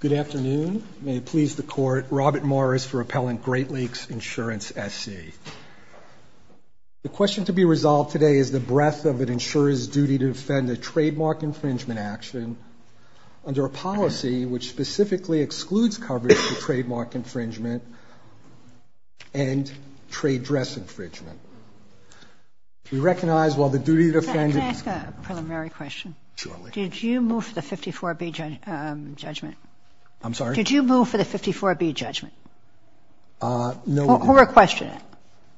Good afternoon. May it please the Court, Robert Morris for Appellant Great Lakes Insurance SC. The question to be resolved today is the breadth of an insurer's duty to defend a trademark infringement action under a policy which specifically excludes coverage of trademark infringement and trade dress infringement. We recognize while the duty to defend. Can I ask a preliminary question? Surely. Did you move for the 54B judgment? I'm sorry? Did you move for the 54B judgment? No. Who requested it?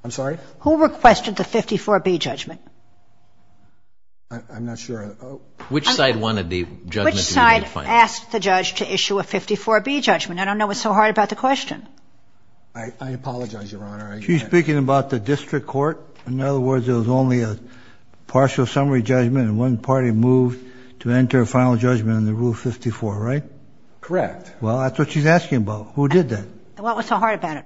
I'm sorry? Who requested the 54B judgment? I'm not sure. Which side wanted the judgment to be defined? Which side asked the judge to issue a 54B judgment? I don't know what's so hard about the question. I apologize, Your Honor. She's speaking about the district court. In other words, it was only a partial summary judgment and one party moved to enter a final judgment under Rule 54, right? Correct. Well, that's what she's asking about. Who did that? What was so hard about it?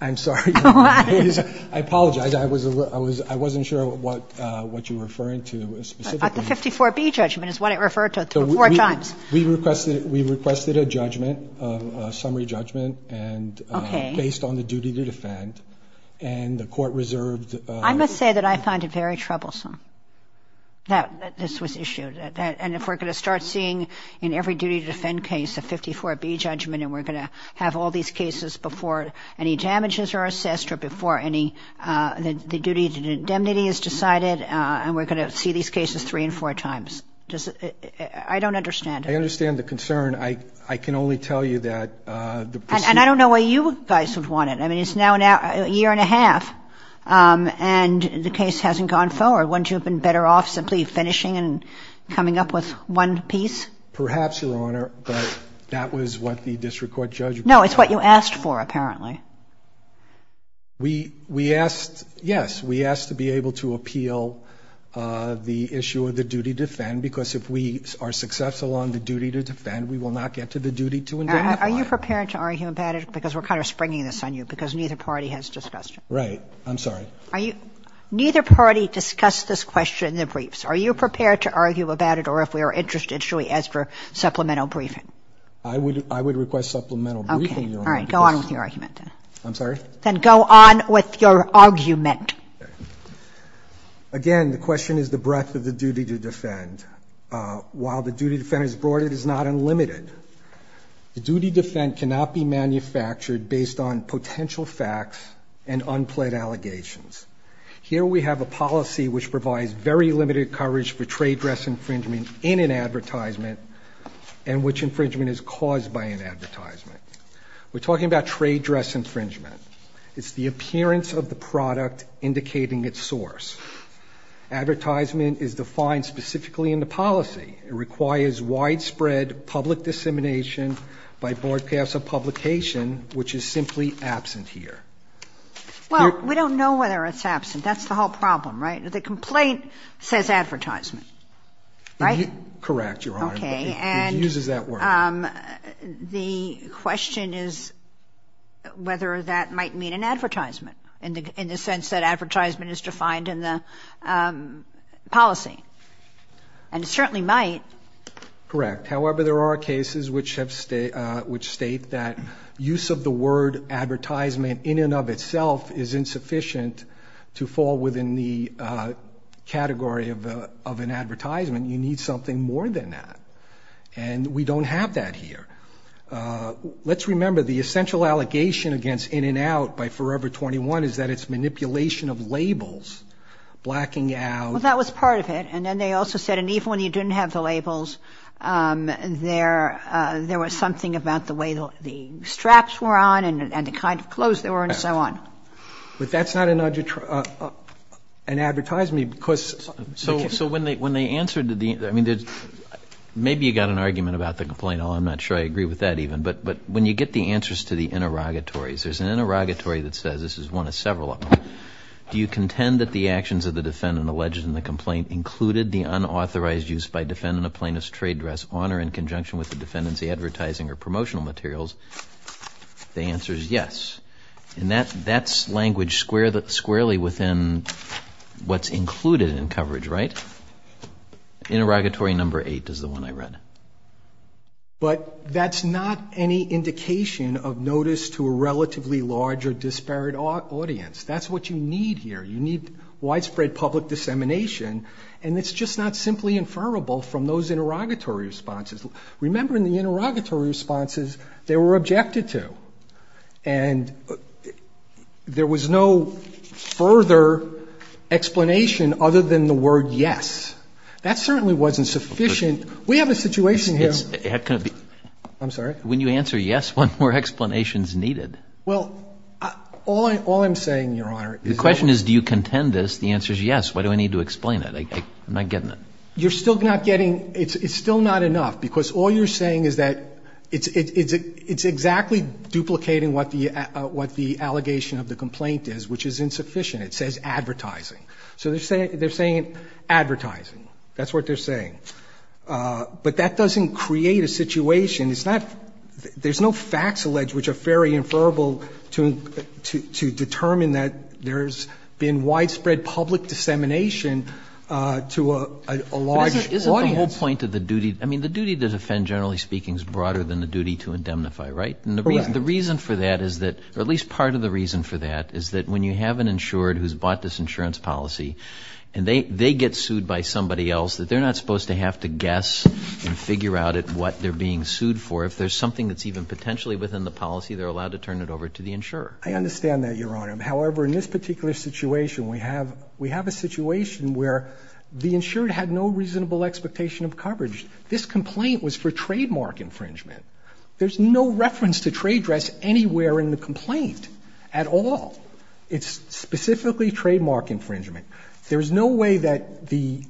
I'm sorry. I apologize. I was I was I wasn't sure what what you were referring to specifically. The 54B judgment is what it referred to four times. We requested we requested a judgment, a summary judgment, and based on the duty to defend and the court reserved. I must say that I find it very troublesome that this was issued and if we're going to start seeing in every duty to defend case a 54B judgment and we're going to have all these cases before any duty to indemnity is decided and we're going to see these cases three and four times. I don't understand. I understand the concern. I can only tell you that. And I don't know why you guys would want it. I mean, it's now a year and a half and the case hasn't gone forward. Wouldn't you have been better off simply finishing and coming up with one piece? Perhaps, Your Honor, but that was what the district court No, it's what you asked for, apparently. We we asked. Yes, we asked to be able to appeal the issue of the duty to defend, because if we are successful on the duty to defend, we will not get to the duty to indemnify. Are you prepared to argue about it? Because we're kind of springing this on you because neither party has discussed it. Right. I'm sorry. Are you neither party discussed this question in the briefs? Are you prepared to argue about it? Or if we are interested, should we ask for OK. All right. Go on with your argument. I'm sorry. Then go on with your argument. Again, the question is the breadth of the duty to defend. While the duty to defend is broad, it is not unlimited. The duty to defend cannot be manufactured based on potential facts and unpled allegations. Here we have a policy which provides very limited coverage for trade dress infringement in an advertisement and which infringement is caused by an advertisement. We're talking about trade dress infringement. It's the appearance of the product indicating its source. Advertisement is defined specifically in the policy. It requires widespread public dissemination by broadcast of publication, which is simply absent here. Well, we don't know whether it's absent. That's the whole problem, right? The complaint says advertisement, right? Correct. You're OK. And uses that word. The question is whether that might mean an advertisement in the in the sense that advertisement is defined in the policy and certainly might. Correct. However, there are cases which have which state that use of the word advertisement in and of itself is insufficient to fall within the category of of an advertisement. You need something more than that. And we don't have that here. Let's remember the essential allegation against In-N-Out by Forever 21 is that it's manipulation of labels, blacking out. Well, that was part of it. And then they also said and even when you didn't have the labels there, there was something about the way the straps were on and the kind of clothes they were and so on. But that's not an advertisement because. So so when they when they answered, I mean, maybe you got an argument about the complaint. I'm not sure I agree with that even. But but when you get the answers to the interrogatories, there's an interrogatory that says this is one of several of them. Do you contend that the actions of the defendant alleged in the complaint included the unauthorized use by defendant of plaintiff's trade dress honor in conjunction with the defendants, the advertising or promotional materials? The answer is yes. And that that's language square that squarely within what's included in coverage, right? Interrogatory number eight is the one I read. But that's not any indication of notice to a relatively large or disparate audience. That's what you need here. You need widespread public dissemination. And it's just not simply inferable from those interrogatory responses. Remember in the interrogatory responses, they were objected to and there was no further explanation other than the word yes. That certainly wasn't sufficient. We have a situation here. I'm sorry. When you answer yes, one more explanation is needed. Well, all I all I'm saying, Your Honor, the question is, do you contend this? The answer is yes. Why do I need to explain it? I'm not getting it. You're still not getting it. It's still not enough, because all you're saying is that it's it's it's exactly duplicating what the what the allegation of the complaint is, which is insufficient. It says advertising. So they're saying they're saying advertising. That's what they're saying. But that doesn't create a situation. It's not there's no facts alleged, which are very inferable to to to determine that there's been widespread public dissemination to a large audience. Isn't the whole point of the duty? I mean, the duty to defend, generally speaking, is broader than the duty to indemnify, right? And the reason the reason for that is that, or at least part of the reason for that, is that when you have an insured who's bought this insurance policy and they they get sued by somebody else, that they're not supposed to have to guess and figure out at what they're being sued for. If there's something that's even potentially within the policy, they're allowed to turn it over to the insurer. I understand that, Your Honor. However, in this particular situation, we have we have a situation where the insured had no reasonable expectation of coverage. This complaint was for trademark infringement. There's no reference to trade dress anywhere in the complaint at all. It's specifically trademark infringement. There is no way that the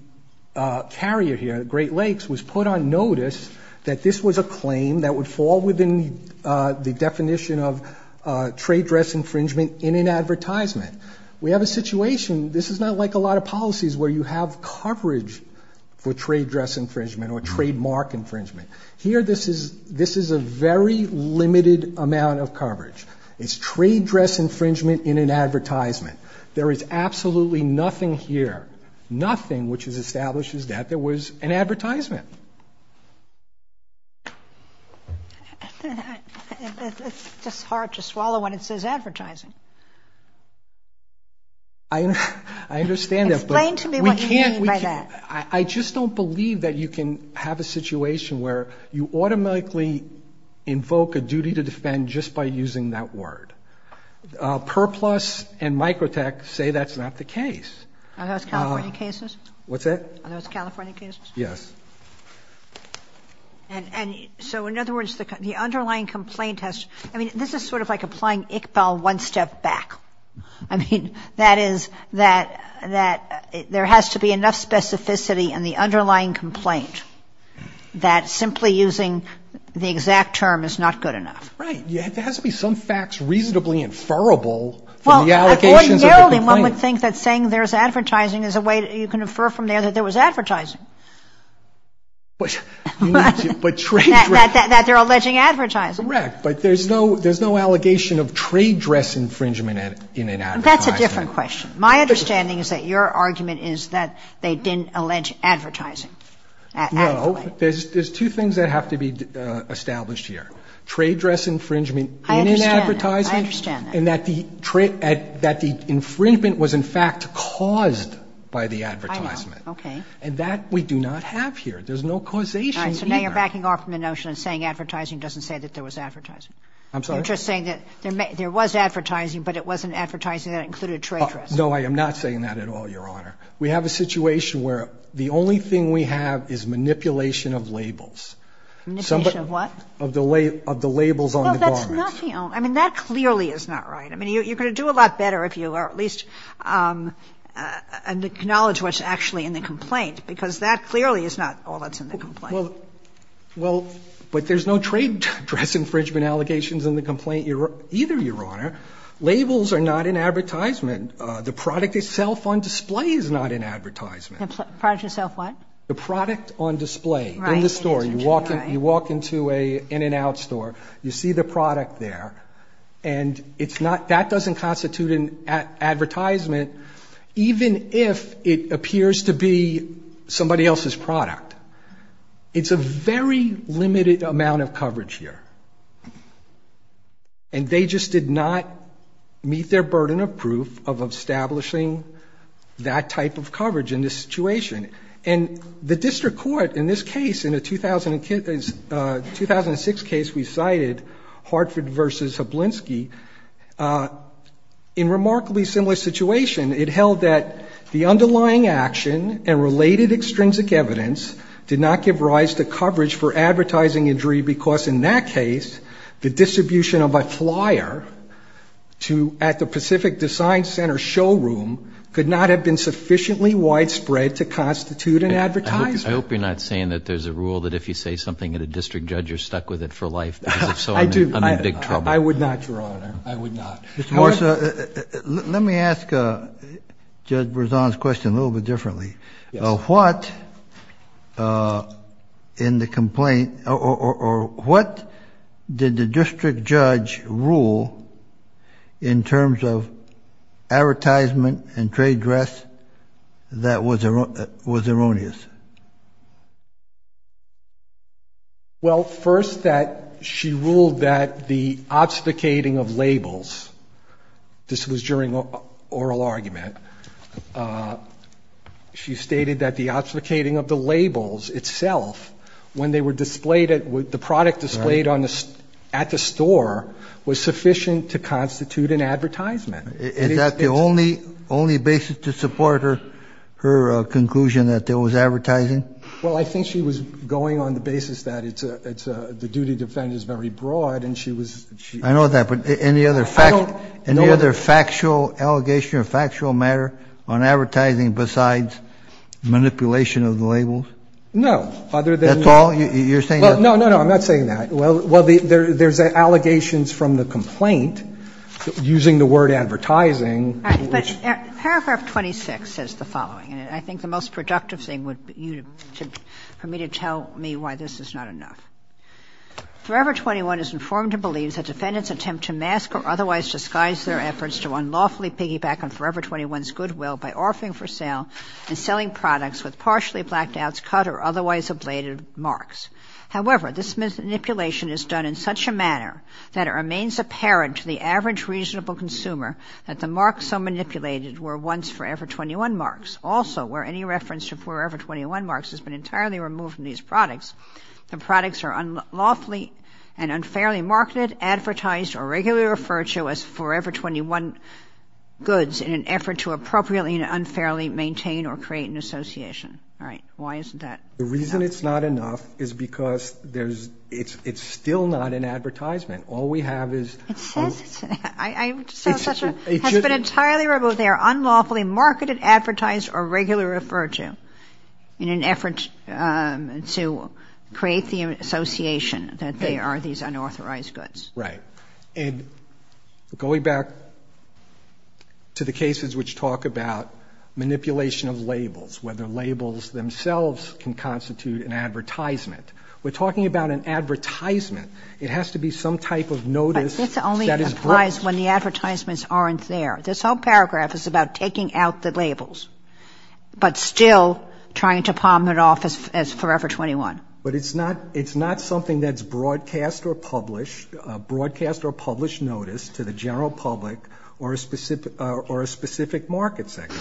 carrier here, Great Lakes, was put on notice that this was a claim that would fall within the definition of trade dress infringement in an advertisement. We have a situation, this is not like a lot of policies where you have coverage for trade dress infringement or trademark infringement. Here, this is this is a very limited amount of coverage. It's trade dress infringement in an advertisement. There is absolutely nothing here, nothing, which establishes that there was an advertisement. It's just hard to swallow when it says advertising. I understand that. Explain to me what you mean by that. I just don't believe that you can have a situation where you automatically invoke a duty to defend just by using that word. Perplus and Microtech say that's not the case. Are those California cases? What's that? Are those California cases? Yes. And so, in other words, the underlying complaint has, I mean, this is sort of like applying Iqbal one step back. I mean, that is that there has to be enough specificity in the underlying complaint that simply using the exact term is not good enough. Right. There has to be some facts reasonably inferable from the allegations of the complaint. Well, ordinarily, one would think that saying there's advertising is a way you can infer from there that there was advertising. But you need to, but trade dress. That they're alleging advertising. Correct. But there's no, there's no allegation of trade dress infringement in an advertisement. That's a different question. My understanding is that your argument is that they didn't allege advertising. No. There's two things that have to be established here. Trade dress infringement in an advertisement. I understand that. And that the infringement was in fact caused by the advertisement. I know. Okay. And that we do not have here. There's no causation either. All right. So now you're backing off from the notion of saying advertising doesn't say that there was advertising. I'm sorry? You're just saying that there was advertising, but it wasn't advertising that included trade dress. No, I am not saying that at all, Your Honor. We have a situation where the only thing we have is manipulation of labels. Manipulation of what? Of the labels on the garments. No, that's not the only, I mean, that clearly is not right. I mean, you're going to do a lot better if you at least acknowledge what's actually in the complaint. Because that clearly is not all that's in the complaint. Well, but there's no trade dress infringement allegations in the complaint either, Your Honor. Labels are not in advertisement. The product itself on display is not in advertisement. The product itself what? The product on display in the store. You walk into an In-N-Out store. You see the product there. And it's not, that doesn't constitute an advertisement even if it appears to be somebody else's product. It's a very limited amount of coverage here. And they just did not meet their burden of proof of establishing that type of coverage in this situation. And the district court in this case, in the 2006 case we cited, Hartford versus Hablinski, in remarkably similar situation, it held that the underlying action and related extrinsic evidence did not give rise to coverage for advertising injury because in that case, the distribution of a flyer at the Pacific Design Center showroom could not have been sufficiently widespread to constitute an advertisement. I hope you're not saying that there's a rule that if you say something at a district judge, you're stuck with it for life. Because if so, I'm in big trouble. I would not, Your Honor. I would not. Mr. Morse, let me ask Judge Berzon's question a little bit differently. What in the complaint, or what did the district judge rule in terms of advertisement and trade dress that was erroneous? Well, first that she ruled that the obfuscating of labels, this was during oral argument, she stated that the obfuscating of the labels itself, when they were displayed, the product displayed at the store was sufficient to constitute an advertisement. Is that the only basis to support her conclusion that there was advertising? Well, I think she was going on the basis that the duty to defend is very broad and she was... I know that, but any other factual allegation or factual matter on advertising besides manipulation of the labels? No. Other than... That's all? You're saying that's all? No, no, no. I'm not saying that. Well, there's allegations from the complaint using the word advertising, which... But Paragraph 26 says the following, and I think the most productive thing would be for me to tell me why this is not enough. Forever 21 is informed and believes that defendants attempt to mask or otherwise disguise their efforts to unlawfully piggyback on Forever 21's goodwill by offering for sale and selling products with partially blacked-outs, cut or otherwise ablated marks. However, this manipulation is done in such a manner that it remains apparent to the average reasonable consumer that the marks so manipulated were once Forever 21 marks. Also, where any reference to Forever 21 marks has been entirely removed from these products, the products are unlawfully and unfairly marketed, advertised, or regularly referred to as Forever 21 goods in an effort to appropriately and unfairly maintain or create an association. All right. Why isn't that enough? The reason it's not enough is because there's... It's still not an advertisement. All we have is... It says... I'm just not sure. It should... It has been entirely removed. So they are unlawfully marketed, advertised, or regularly referred to in an effort to create the association that they are these unauthorized goods. Right. And going back to the cases which talk about manipulation of labels, whether labels themselves can constitute an advertisement, we're talking about an advertisement. It has to be some type of notice that is... But this only applies when the advertisements aren't there. This whole paragraph is about taking out the labels but still trying to palm it off as Forever 21. But it's not... It's not something that's broadcast or published, broadcast or published notice to the general public or a specific market sector.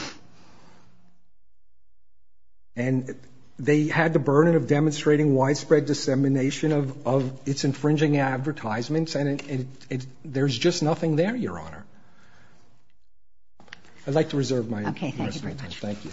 And they had the burden of demonstrating widespread dissemination of its infringing advertisements and there's just nothing there, Your Honor. I'd like to reserve my... Okay. Thank you very much. Thank you.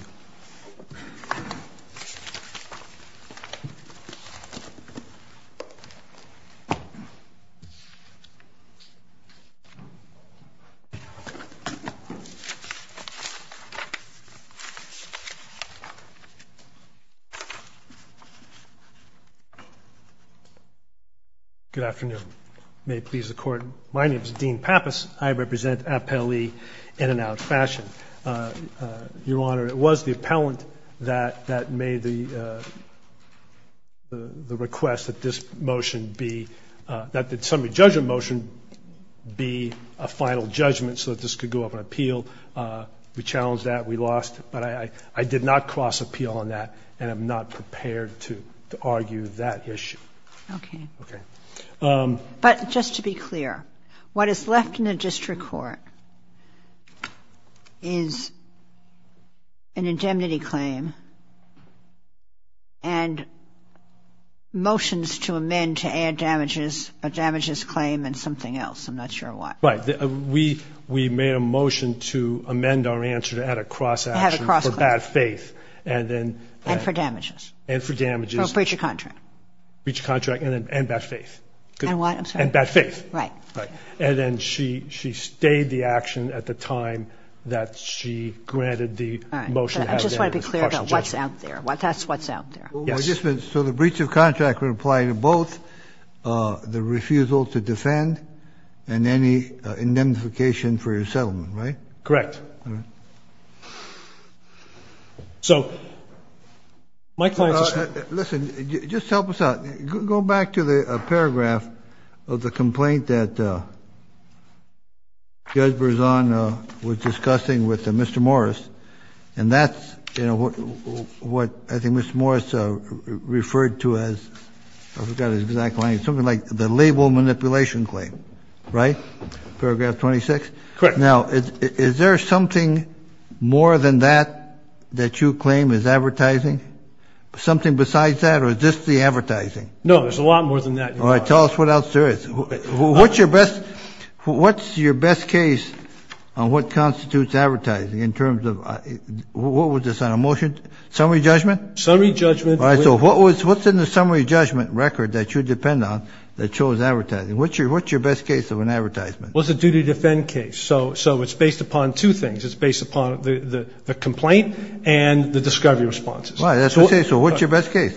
Good afternoon. May it please the Court. My name is Dean Pappas. I represent Appellee in and out fashion. Your Honor, it was the appellant that made the request that this motion be... That the summary judgment motion be a final judgment so that this could go up on appeal. We challenged that. We lost. But I did not cross appeal on that and I'm not prepared to argue that issue. Okay. Okay. But just to be clear, what is left in the district court is an indemnity claim and motions to amend to add damages, a damages claim and something else. I'm not sure what. Right. We made a motion to amend our answer to add a cross action for bad faith and then... And for damages. And for damages. For a breach of contract. For a breach of contract and bad faith. And what? I'm sorry. And bad faith. Right. Right. And then she stayed the action at the time that she granted the motion... All right. I just want to be clear about what's out there. That's what's out there. Yes. So the breach of contract would apply to both the refusal to defend and any indemnification for your settlement, right? Correct. All right. So my client... Listen, just help us out. Go back to the paragraph of the complaint that Judge Berzon was discussing with Mr. Morris, and that's what I think Mr. Morris referred to as, I forgot his exact line, something like the label manipulation claim, right? Paragraph 26? Correct. Now, is there something more than that that you claim is advertising? Something besides that? Or is this the advertising? No, there's a lot more than that. All right. Tell us what else there is. What's your best case on what constitutes advertising in terms of what was this on a motion? Summary judgment? Summary judgment. All right. So what's in the summary judgment record that you depend on that shows advertising? What's your best case of an advertisement? Well, it's a duty to defend case. So it's based upon two things. It's based upon the complaint and the discovery responses. All right. That's what I'm saying. So what's your best case?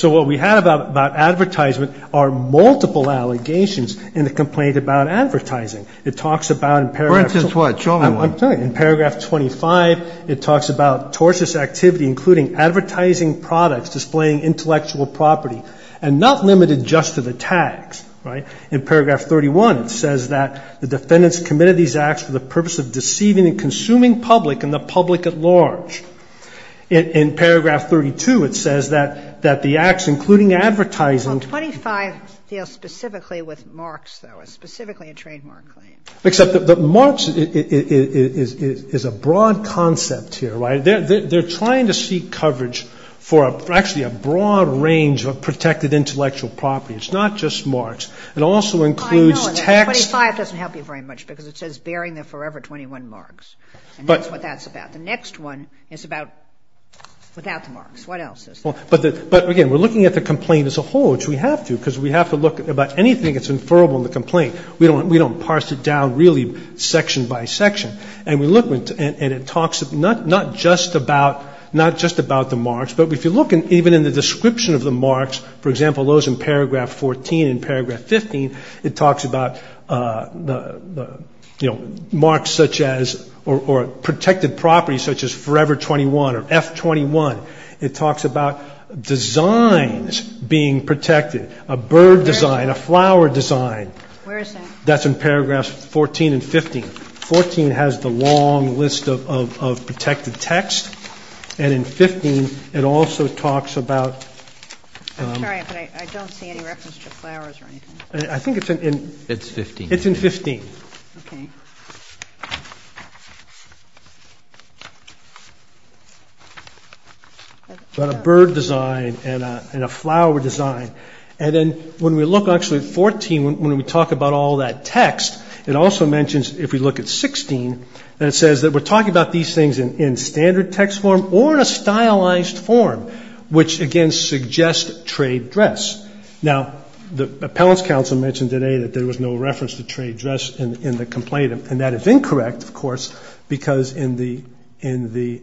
So what we had about advertisement are multiple allegations in the complaint about advertising. It talks about in paragraph... For instance what? Show me one. I'm telling you. In paragraph 25, it talks about tortious activity, including advertising products, displaying intellectual property, and not limited just to the tags, right? In paragraph 31, it says that the defendants committed these acts for the purpose of deceiving and consuming public and the public at large. In paragraph 32, it says that the acts, including advertising... Well, 25 deals specifically with Marx, though, specifically a trademark claim. Except that Marx is a broad concept here, right? They're trying to seek coverage for actually a broad range of protected intellectual property. It's not just Marx. It also includes text... I know, and 25 doesn't help you very much because it says bearing the forever 21 Marx. But... And that's what that's about. The next one is about without the Marx. What else is there? But, again, we're looking at the complaint as a whole, which we have to because we have to look about anything that's inferable in the complaint. We don't parse it down really section by section. And we look and it talks not just about the Marx, but if you look even in the description of the Marx, for example, those in paragraph 14 and paragraph 15, it talks about, you know, Marx such as or protected property such as forever 21 or F21. It talks about designs being protected, a bird design, a flower design. Where is that? That's in paragraphs 14 and 15. 14 has the long list of protected text. And in 15, it also talks about... I'm sorry, but I don't see any reference to flowers or anything. I think it's in... It's 15. It's in 15. Okay. About a bird design and a flower design. And then when we look actually at 14, when we talk about all that text, it also mentions if we look at 16, and it says that we're talking about these things in standard text form or in a stylized form, which again suggests trade dress. Now, the appellants council mentioned today that there was no reference to trade dress in the complaint. And that is incorrect, of course, because in the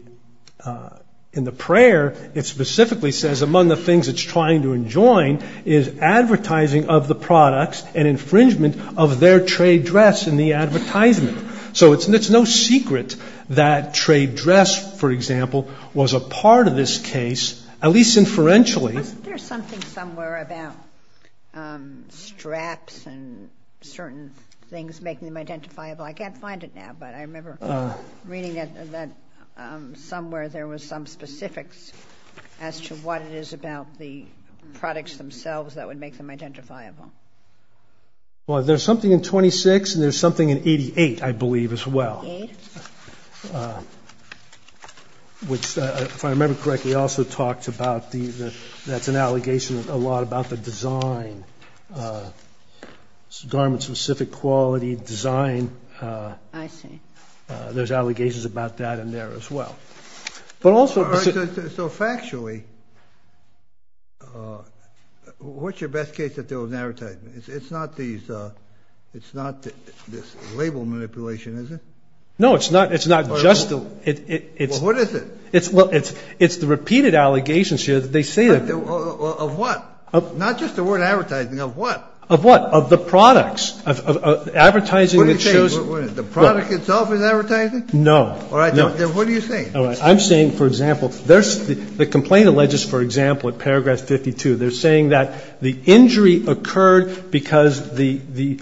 prayer, it specifically says among the things it's trying to enjoin is advertising of the products and infringement of their trade dress in the advertisement. So it's no secret that trade dress, for example, was a part of this case, at least inferentially. Wasn't there something somewhere about straps and certain things making them identifiable? I can't find it now, but I remember reading that somewhere there was some specifics as to what it is about the products themselves that would make them identifiable. Well, there's something in 26, and there's something in 88, I believe, as well. Yes. Which, if I remember correctly, also talked about that's an allegation a lot about the design, garment-specific quality design. I see. There's allegations about that in there as well. All right, so factually, what's your best case that there was an advertisement? It's not this label manipulation, is it? No, it's not just the... Well, what is it? Well, it's the repeated allegations here that they say that... Of what? Not just the word advertising, of what? Of what? Of the products. What are you saying? The product itself is advertising? No. All right, then what are you saying? I'm saying, for example, the complaint alleges, for example, at paragraph 52, they're saying that the injury occurred because the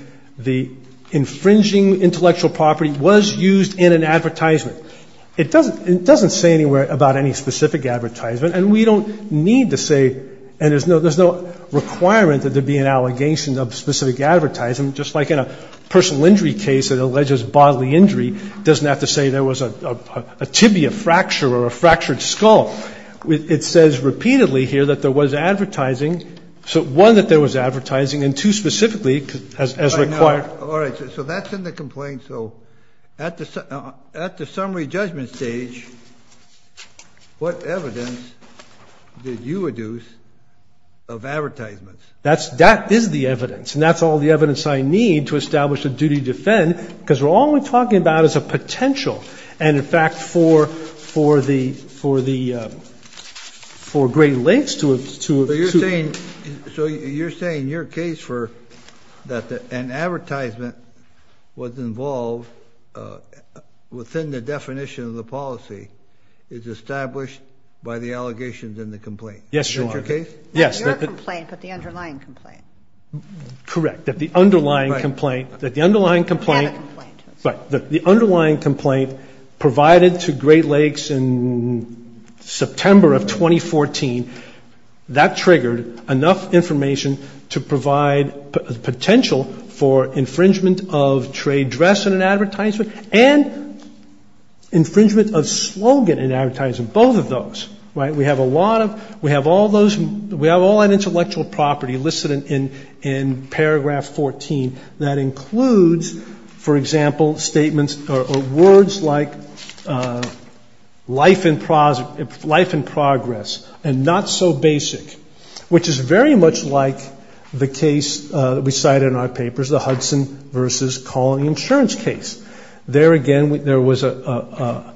infringing intellectual property was used in an advertisement. It doesn't say anywhere about any specific advertisement, and we don't need to say, and there's no requirement that there be an allegation of specific advertising, just like in a personal injury case that alleges bodily injury. It doesn't have to say there was a tibia fracture or a fractured skull. It says repeatedly here that there was advertising, one, that there was advertising, and two, specifically, as required... All right, so that's in the complaint. So at the summary judgment stage, what evidence did you reduce of advertisements? That is the evidence, and that's all the evidence I need to establish a duty to defend, because all we're talking about is a potential, and, in fact, for great lengths to... So you're saying your case for that an advertisement was involved within the definition of the policy is established by the allegations in the complaint. Yes, Your Honor. Is that your case? Yes. Not your complaint, but the underlying complaint. Correct. That the underlying complaint... Right. That the underlying complaint... Not a complaint. Right. The underlying complaint provided to Great Lakes in September of 2014. That triggered enough information to provide potential for infringement of trade dress in an advertisement and infringement of slogan in an advertisement, both of those. Right? We have a lot of... We have all those... We have all that intellectual property listed in paragraph 14. That includes, for example, statements or words like life in progress and not so basic, which is very much like the case that we cite in our papers, the Hudson v. Colony Insurance case. There, again, there was a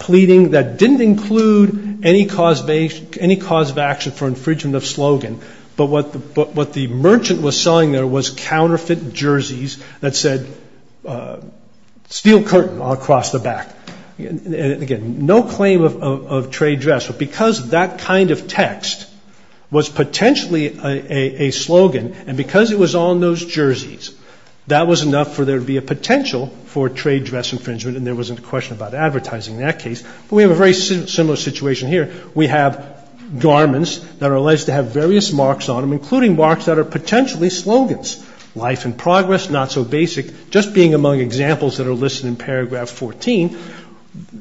pleading that didn't include any cause of action for infringement of slogan, but what the merchant was selling there was counterfeit jerseys that said steel curtain across the back. Again, no claim of trade dress, but because that kind of text was potentially a slogan and because it was on those jerseys, that was enough for there to be a potential for trade dress infringement and there wasn't a question about advertising in that case. But we have a very similar situation here. We have garments that are alleged to have various marks on them, including marks that are potentially slogans. Life in progress, not so basic, just being among examples that are listed in paragraph 14.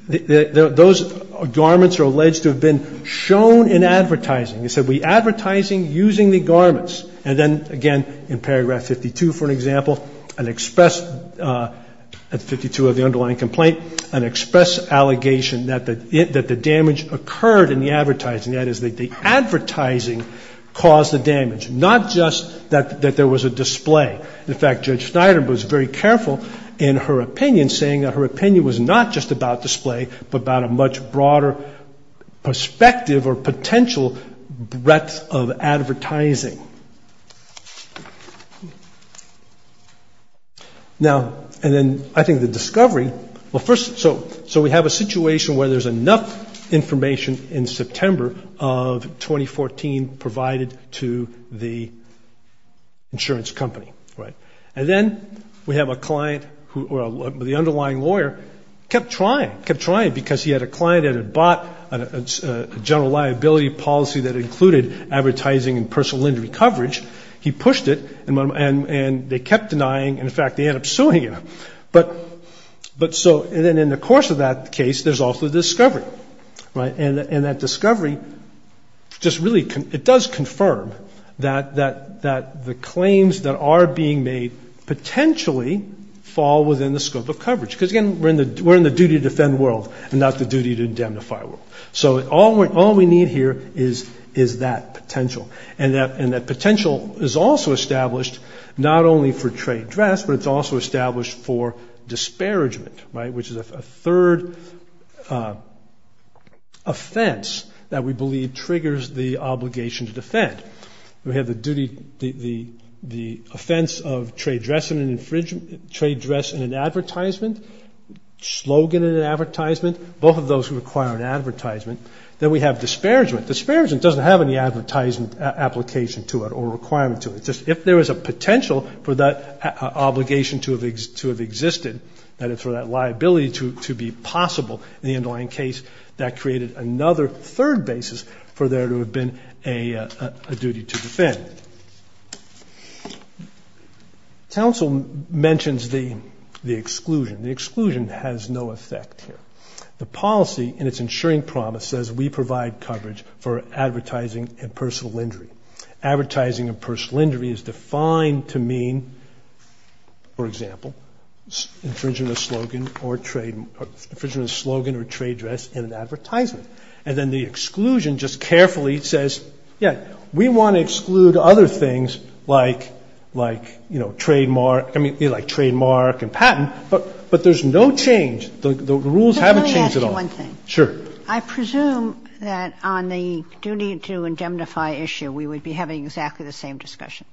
Those garments are alleged to have been shown in advertising. It said, we advertising using the garments. And then, again, in paragraph 52, for example, an express, at 52 of the underlying complaint, an express allegation that the damage occurred in the advertising. That is, the advertising caused the damage, not just that there was a display. In fact, Judge Snyder was very careful in her opinion, saying that her opinion was not just about display, but about a much broader perspective or potential breadth of advertising. Now, and then I think the discovery, well, first, so we have a situation where there's enough information in September of 2014 provided to the insurance company, right? And then we have a client or the underlying lawyer kept trying, kept trying, because he had a client that had bought a general liability policy that included advertising and personal injury coverage. He pushed it, and they kept denying. In fact, they ended up suing him. But so then in the course of that case, there's also discovery, right? And that discovery just really, it does confirm that the claims that are being made potentially fall within the scope of coverage. Because, again, we're in the duty to defend the world and not the duty to indemnify the world. So all we need here is that potential. And that potential is also established not only for trade dress, but it's also established for disparagement, right? Which is a third offense that we believe triggers the obligation to defend. We have the duty, the offense of trade dress in an advertisement, slogan in an advertisement, both of those require an advertisement. Then we have disparagement. Disparagement doesn't have any advertisement application to it or requirement to it. It's just if there is a potential for that obligation to have existed, that is for that liability to be possible in the underlying case, that created another third basis for there to have been a duty to defend. Council mentions the exclusion. The exclusion has no effect here. The policy in its ensuring promise says we provide coverage for advertising and personal injury. Advertising and personal injury is defined to mean, for example, infringement of slogan or trade dress in an advertisement. And then the exclusion just carefully says, yeah, we want to exclude other things like, you know, trademark. I mean, like trademark and patent. But there's no change. The rules haven't changed at all. One thing. Sure. I presume that on the duty to indemnify issue, we would be having exactly the same discussion.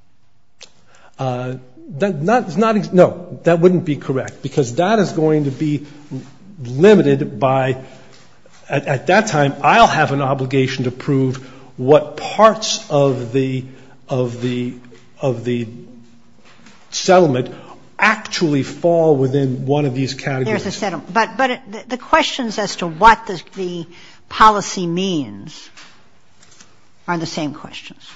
No. That wouldn't be correct, because that is going to be limited by, at that time, I'll have an obligation to prove what parts of the settlement actually fall within one of these categories. There's a settlement. But the questions as to what the policy means are the same questions.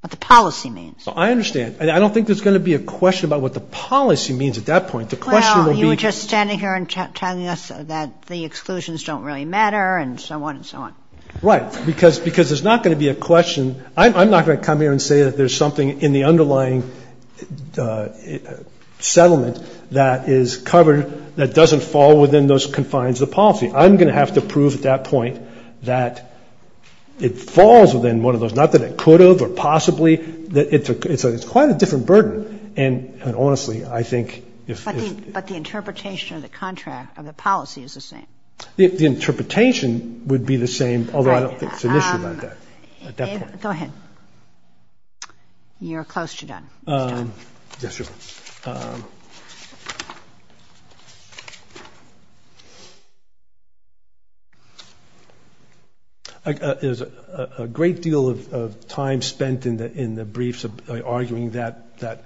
What the policy means. I understand. I don't think there's going to be a question about what the policy means at that point. The question will be. Well, you were just standing here and telling us that the exclusions don't really matter and so on and so on. Right. Because there's not going to be a question. I'm not going to come here and say that there's something in the underlying settlement that is covered that doesn't fall within those confines of the policy. I'm going to have to prove at that point that it falls within one of those. Not that it could have or possibly. It's quite a different burden. And honestly, I think if. But the interpretation of the contract of the policy is the same. The interpretation would be the same, although I don't think it's an issue about that, Go ahead. You're close to done. There's a great deal of time spent in the briefs arguing that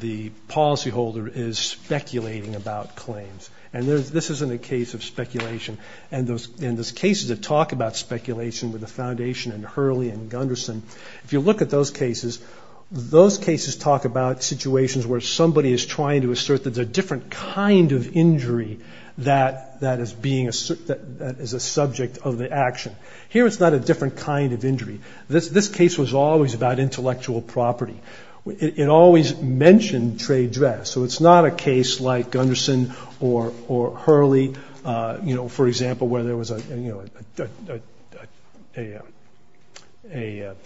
the policyholder is speculating about claims. And this isn't a case of speculation. And in those cases that talk about speculation with the foundation and Hurley and Gunderson, if you look at those cases, those cases talk about situations where somebody is trying to assert that there's a different kind of injury that is a subject of the action. Here it's not a different kind of injury. This case was always about intellectual property. It always mentioned trade dress. So it's not a case like Gunderson or Hurley, for example, where there was a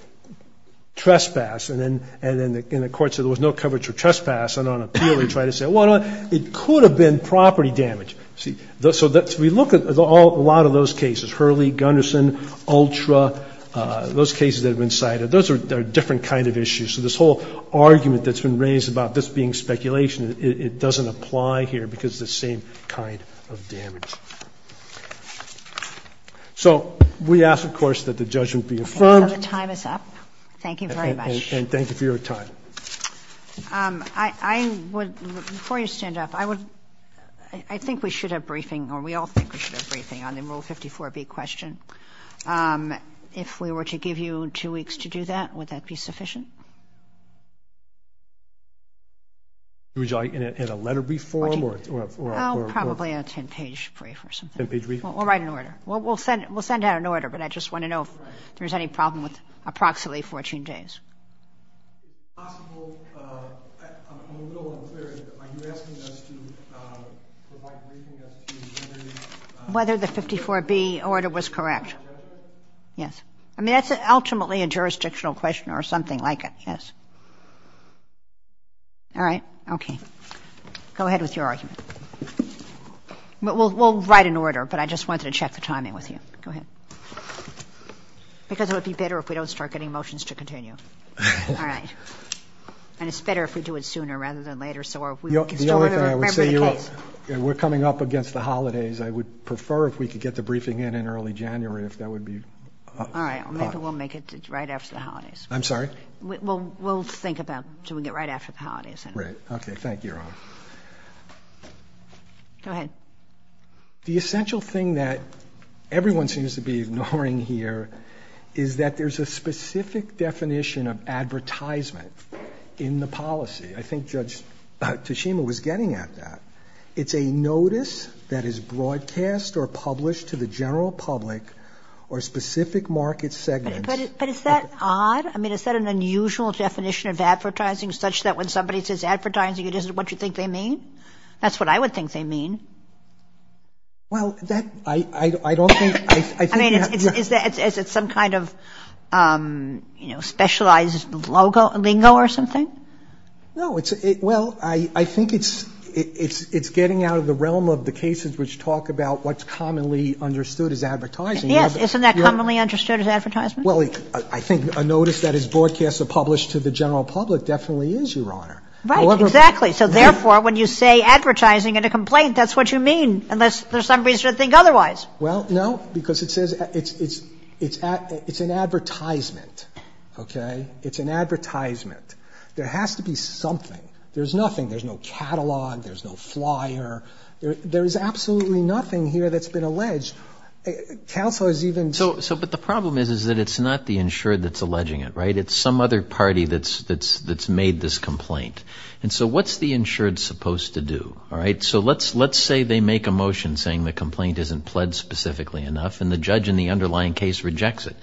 trespass and then the court said there was no coverage of trespass. And on appeal they try to say, well, it could have been property damage. So we look at a lot of those cases, Hurley, Gunderson, Ultra, those cases that have been cited. Those are different kind of issues. So this whole argument that's been raised about this being speculation, it doesn't apply here because it's the same kind of damage. So we ask, of course, that the judgment be affirmed. And the time is up. Thank you very much. And thank you for your time. I would, before you stand up, I would, I think we should have briefing or we all think we should have briefing on the Rule 54B question. If we were to give you two weeks to do that, would that be sufficient? Would you like in a letter brief form or? Probably a 10-page brief or something. We'll write an order. We'll send out an order, but I just want to know if there's any problem with approximately 14 days. If possible, I'm a little unclear. Are you asking us to provide briefing as to whether the 54B order was correct? Yes. I mean, that's ultimately a jurisdictional question or something like it, yes. All right. Okay. Go ahead with your argument. We'll write an order, but I just wanted to check the timing with you. Go ahead. Because it would be better if we don't start getting motions to continue. All right. And it's better if we do it sooner rather than later so we can still remember the case. We're coming up against the holidays. I would prefer if we could get the briefing in in early January if that would be... All right. Maybe we'll make it right after the holidays. I'm sorry? We'll think about doing it right after the holidays. Right. Okay. Thank you, Your Honor. Go ahead. The essential thing that everyone seems to be ignoring here is that there's a specific definition of advertisement in the policy. I think Judge Tashima was getting at that. It's a notice that is broadcast or published to the general public or specific market segments. But is that odd? I mean, is that an unusual definition of advertising, such that when somebody says advertising it isn't what you think they mean? That's what I would think they mean. Well, I don't think... I mean, is it some kind of specialized lingo or something? No. Well, I think it's getting out of the realm of the cases which talk about what's commonly understood as advertising. Yes. Isn't that commonly understood as advertisement? Well, I think a notice that is broadcast or published to the general public definitely is, Your Honor. Right. Exactly. So, therefore, when you say advertising in a complaint, that's what you mean, unless there's some reason to think otherwise. Well, no, because it says it's an advertisement. Okay? It's an advertisement. There has to be something. There's nothing. There's no catalog. There's no flyer. There is absolutely nothing here that's been alleged. Counsel has even... So, but the problem is that it's not the insured that's alleging it, right? It's some other party that's made this complaint. And so what's the insured supposed to do? All right? So let's say they make a motion saying the complaint isn't pledged specifically enough and the judge in the underlying case rejects it.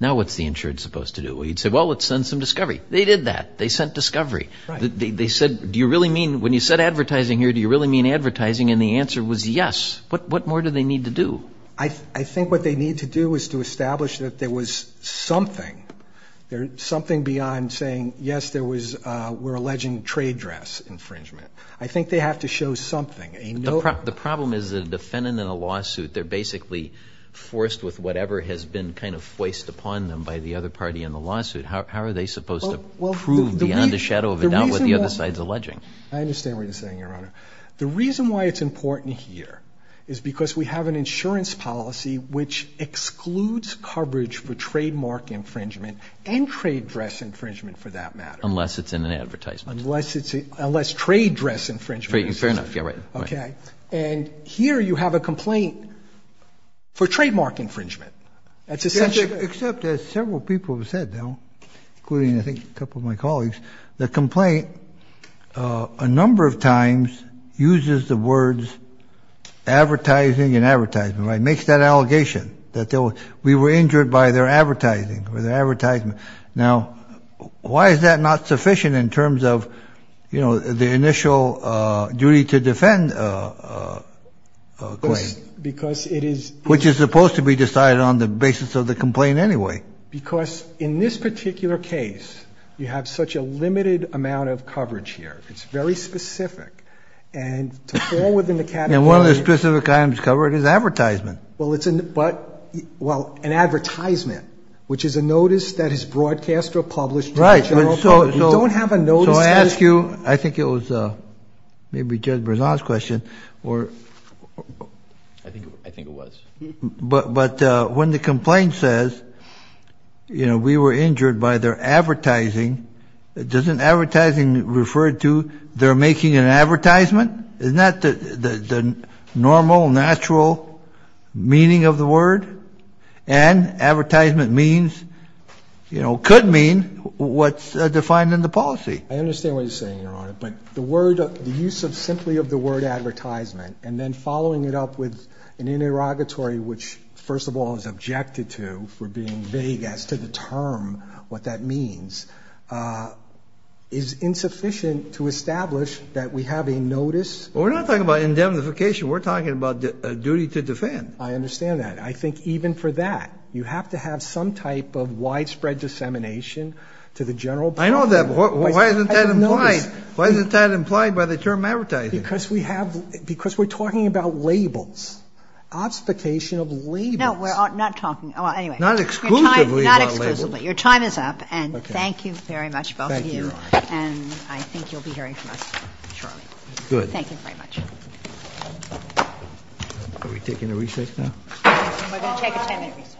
Now what's the insured supposed to do? Well, he'd say, Well, let's send some discovery. They did that. They sent discovery. They said, Do you really mean... When you said advertising here, do you really mean advertising? And the answer was yes. What more do they need to do? I think what they need to do is to establish that there was something. There's something beyond saying, Yes, there was... We're alleging trade dress infringement. I think they have to show something. The problem is that a defendant in a lawsuit, they're basically forced with whatever has been kind of foist upon them by the other party in the lawsuit. How are they supposed to prove beyond a shadow of a doubt what the other side's alleging? I understand what you're saying, Your Honor. The reason why it's important here is because we have an insurance policy which excludes coverage for trademark infringement and trade dress infringement, for that matter. Unless it's in an advertisement. Unless trade dress infringement. Fair enough. And here you have a complaint for trademark infringement. Except as several people have said, including I think a couple of my colleagues, the complaint a number of times uses the words advertising and advertisement. Makes that allegation that we were injured by their advertising or their advertisement. Now, why is that not sufficient in terms of the initial duty to defend a claim? Because it is... Which is supposed to be decided on the basis of the complaint anyway. Because in this particular case, you have such a limited amount of coverage here. It's very specific. And to fall within the category... And one of the specific items covered is advertisement. Well, an advertisement, which is a notice that is broadcast or published... Right. We don't have a notice... So I ask you, I think it was maybe Judge Berzon's question. I think it was. But when the complaint says, you know, we were injured by their advertising, doesn't advertising refer to their making an advertisement? Isn't that the normal, natural meaning of the word? And advertisement means, you know, could mean what's defined in the policy. I understand what you're saying, Your Honor. But the word, the use of simply of the word advertisement, and then following it up with an interrogatory which, first of all, is objected to for being vague as to the term, what that means, is insufficient to establish that we have a notice. Well, we're not talking about indemnification. We're talking about a duty to defend. I understand that. I think even for that, you have to have some type of widespread dissemination to the general public. I know that, but why isn't that implied? Why isn't that implied by the term advertising? Because we have... Because we're talking about labels, obfuscation of labels. No, we're not talking... Not exclusively about labels. Not exclusively. Your time is up, and thank you very much, both of you. Thank you, Your Honor. And I think you'll be hearing from us shortly. Good. Thank you very much. Are we taking a recess now? We're going to take a 10-minute recess. Thank you.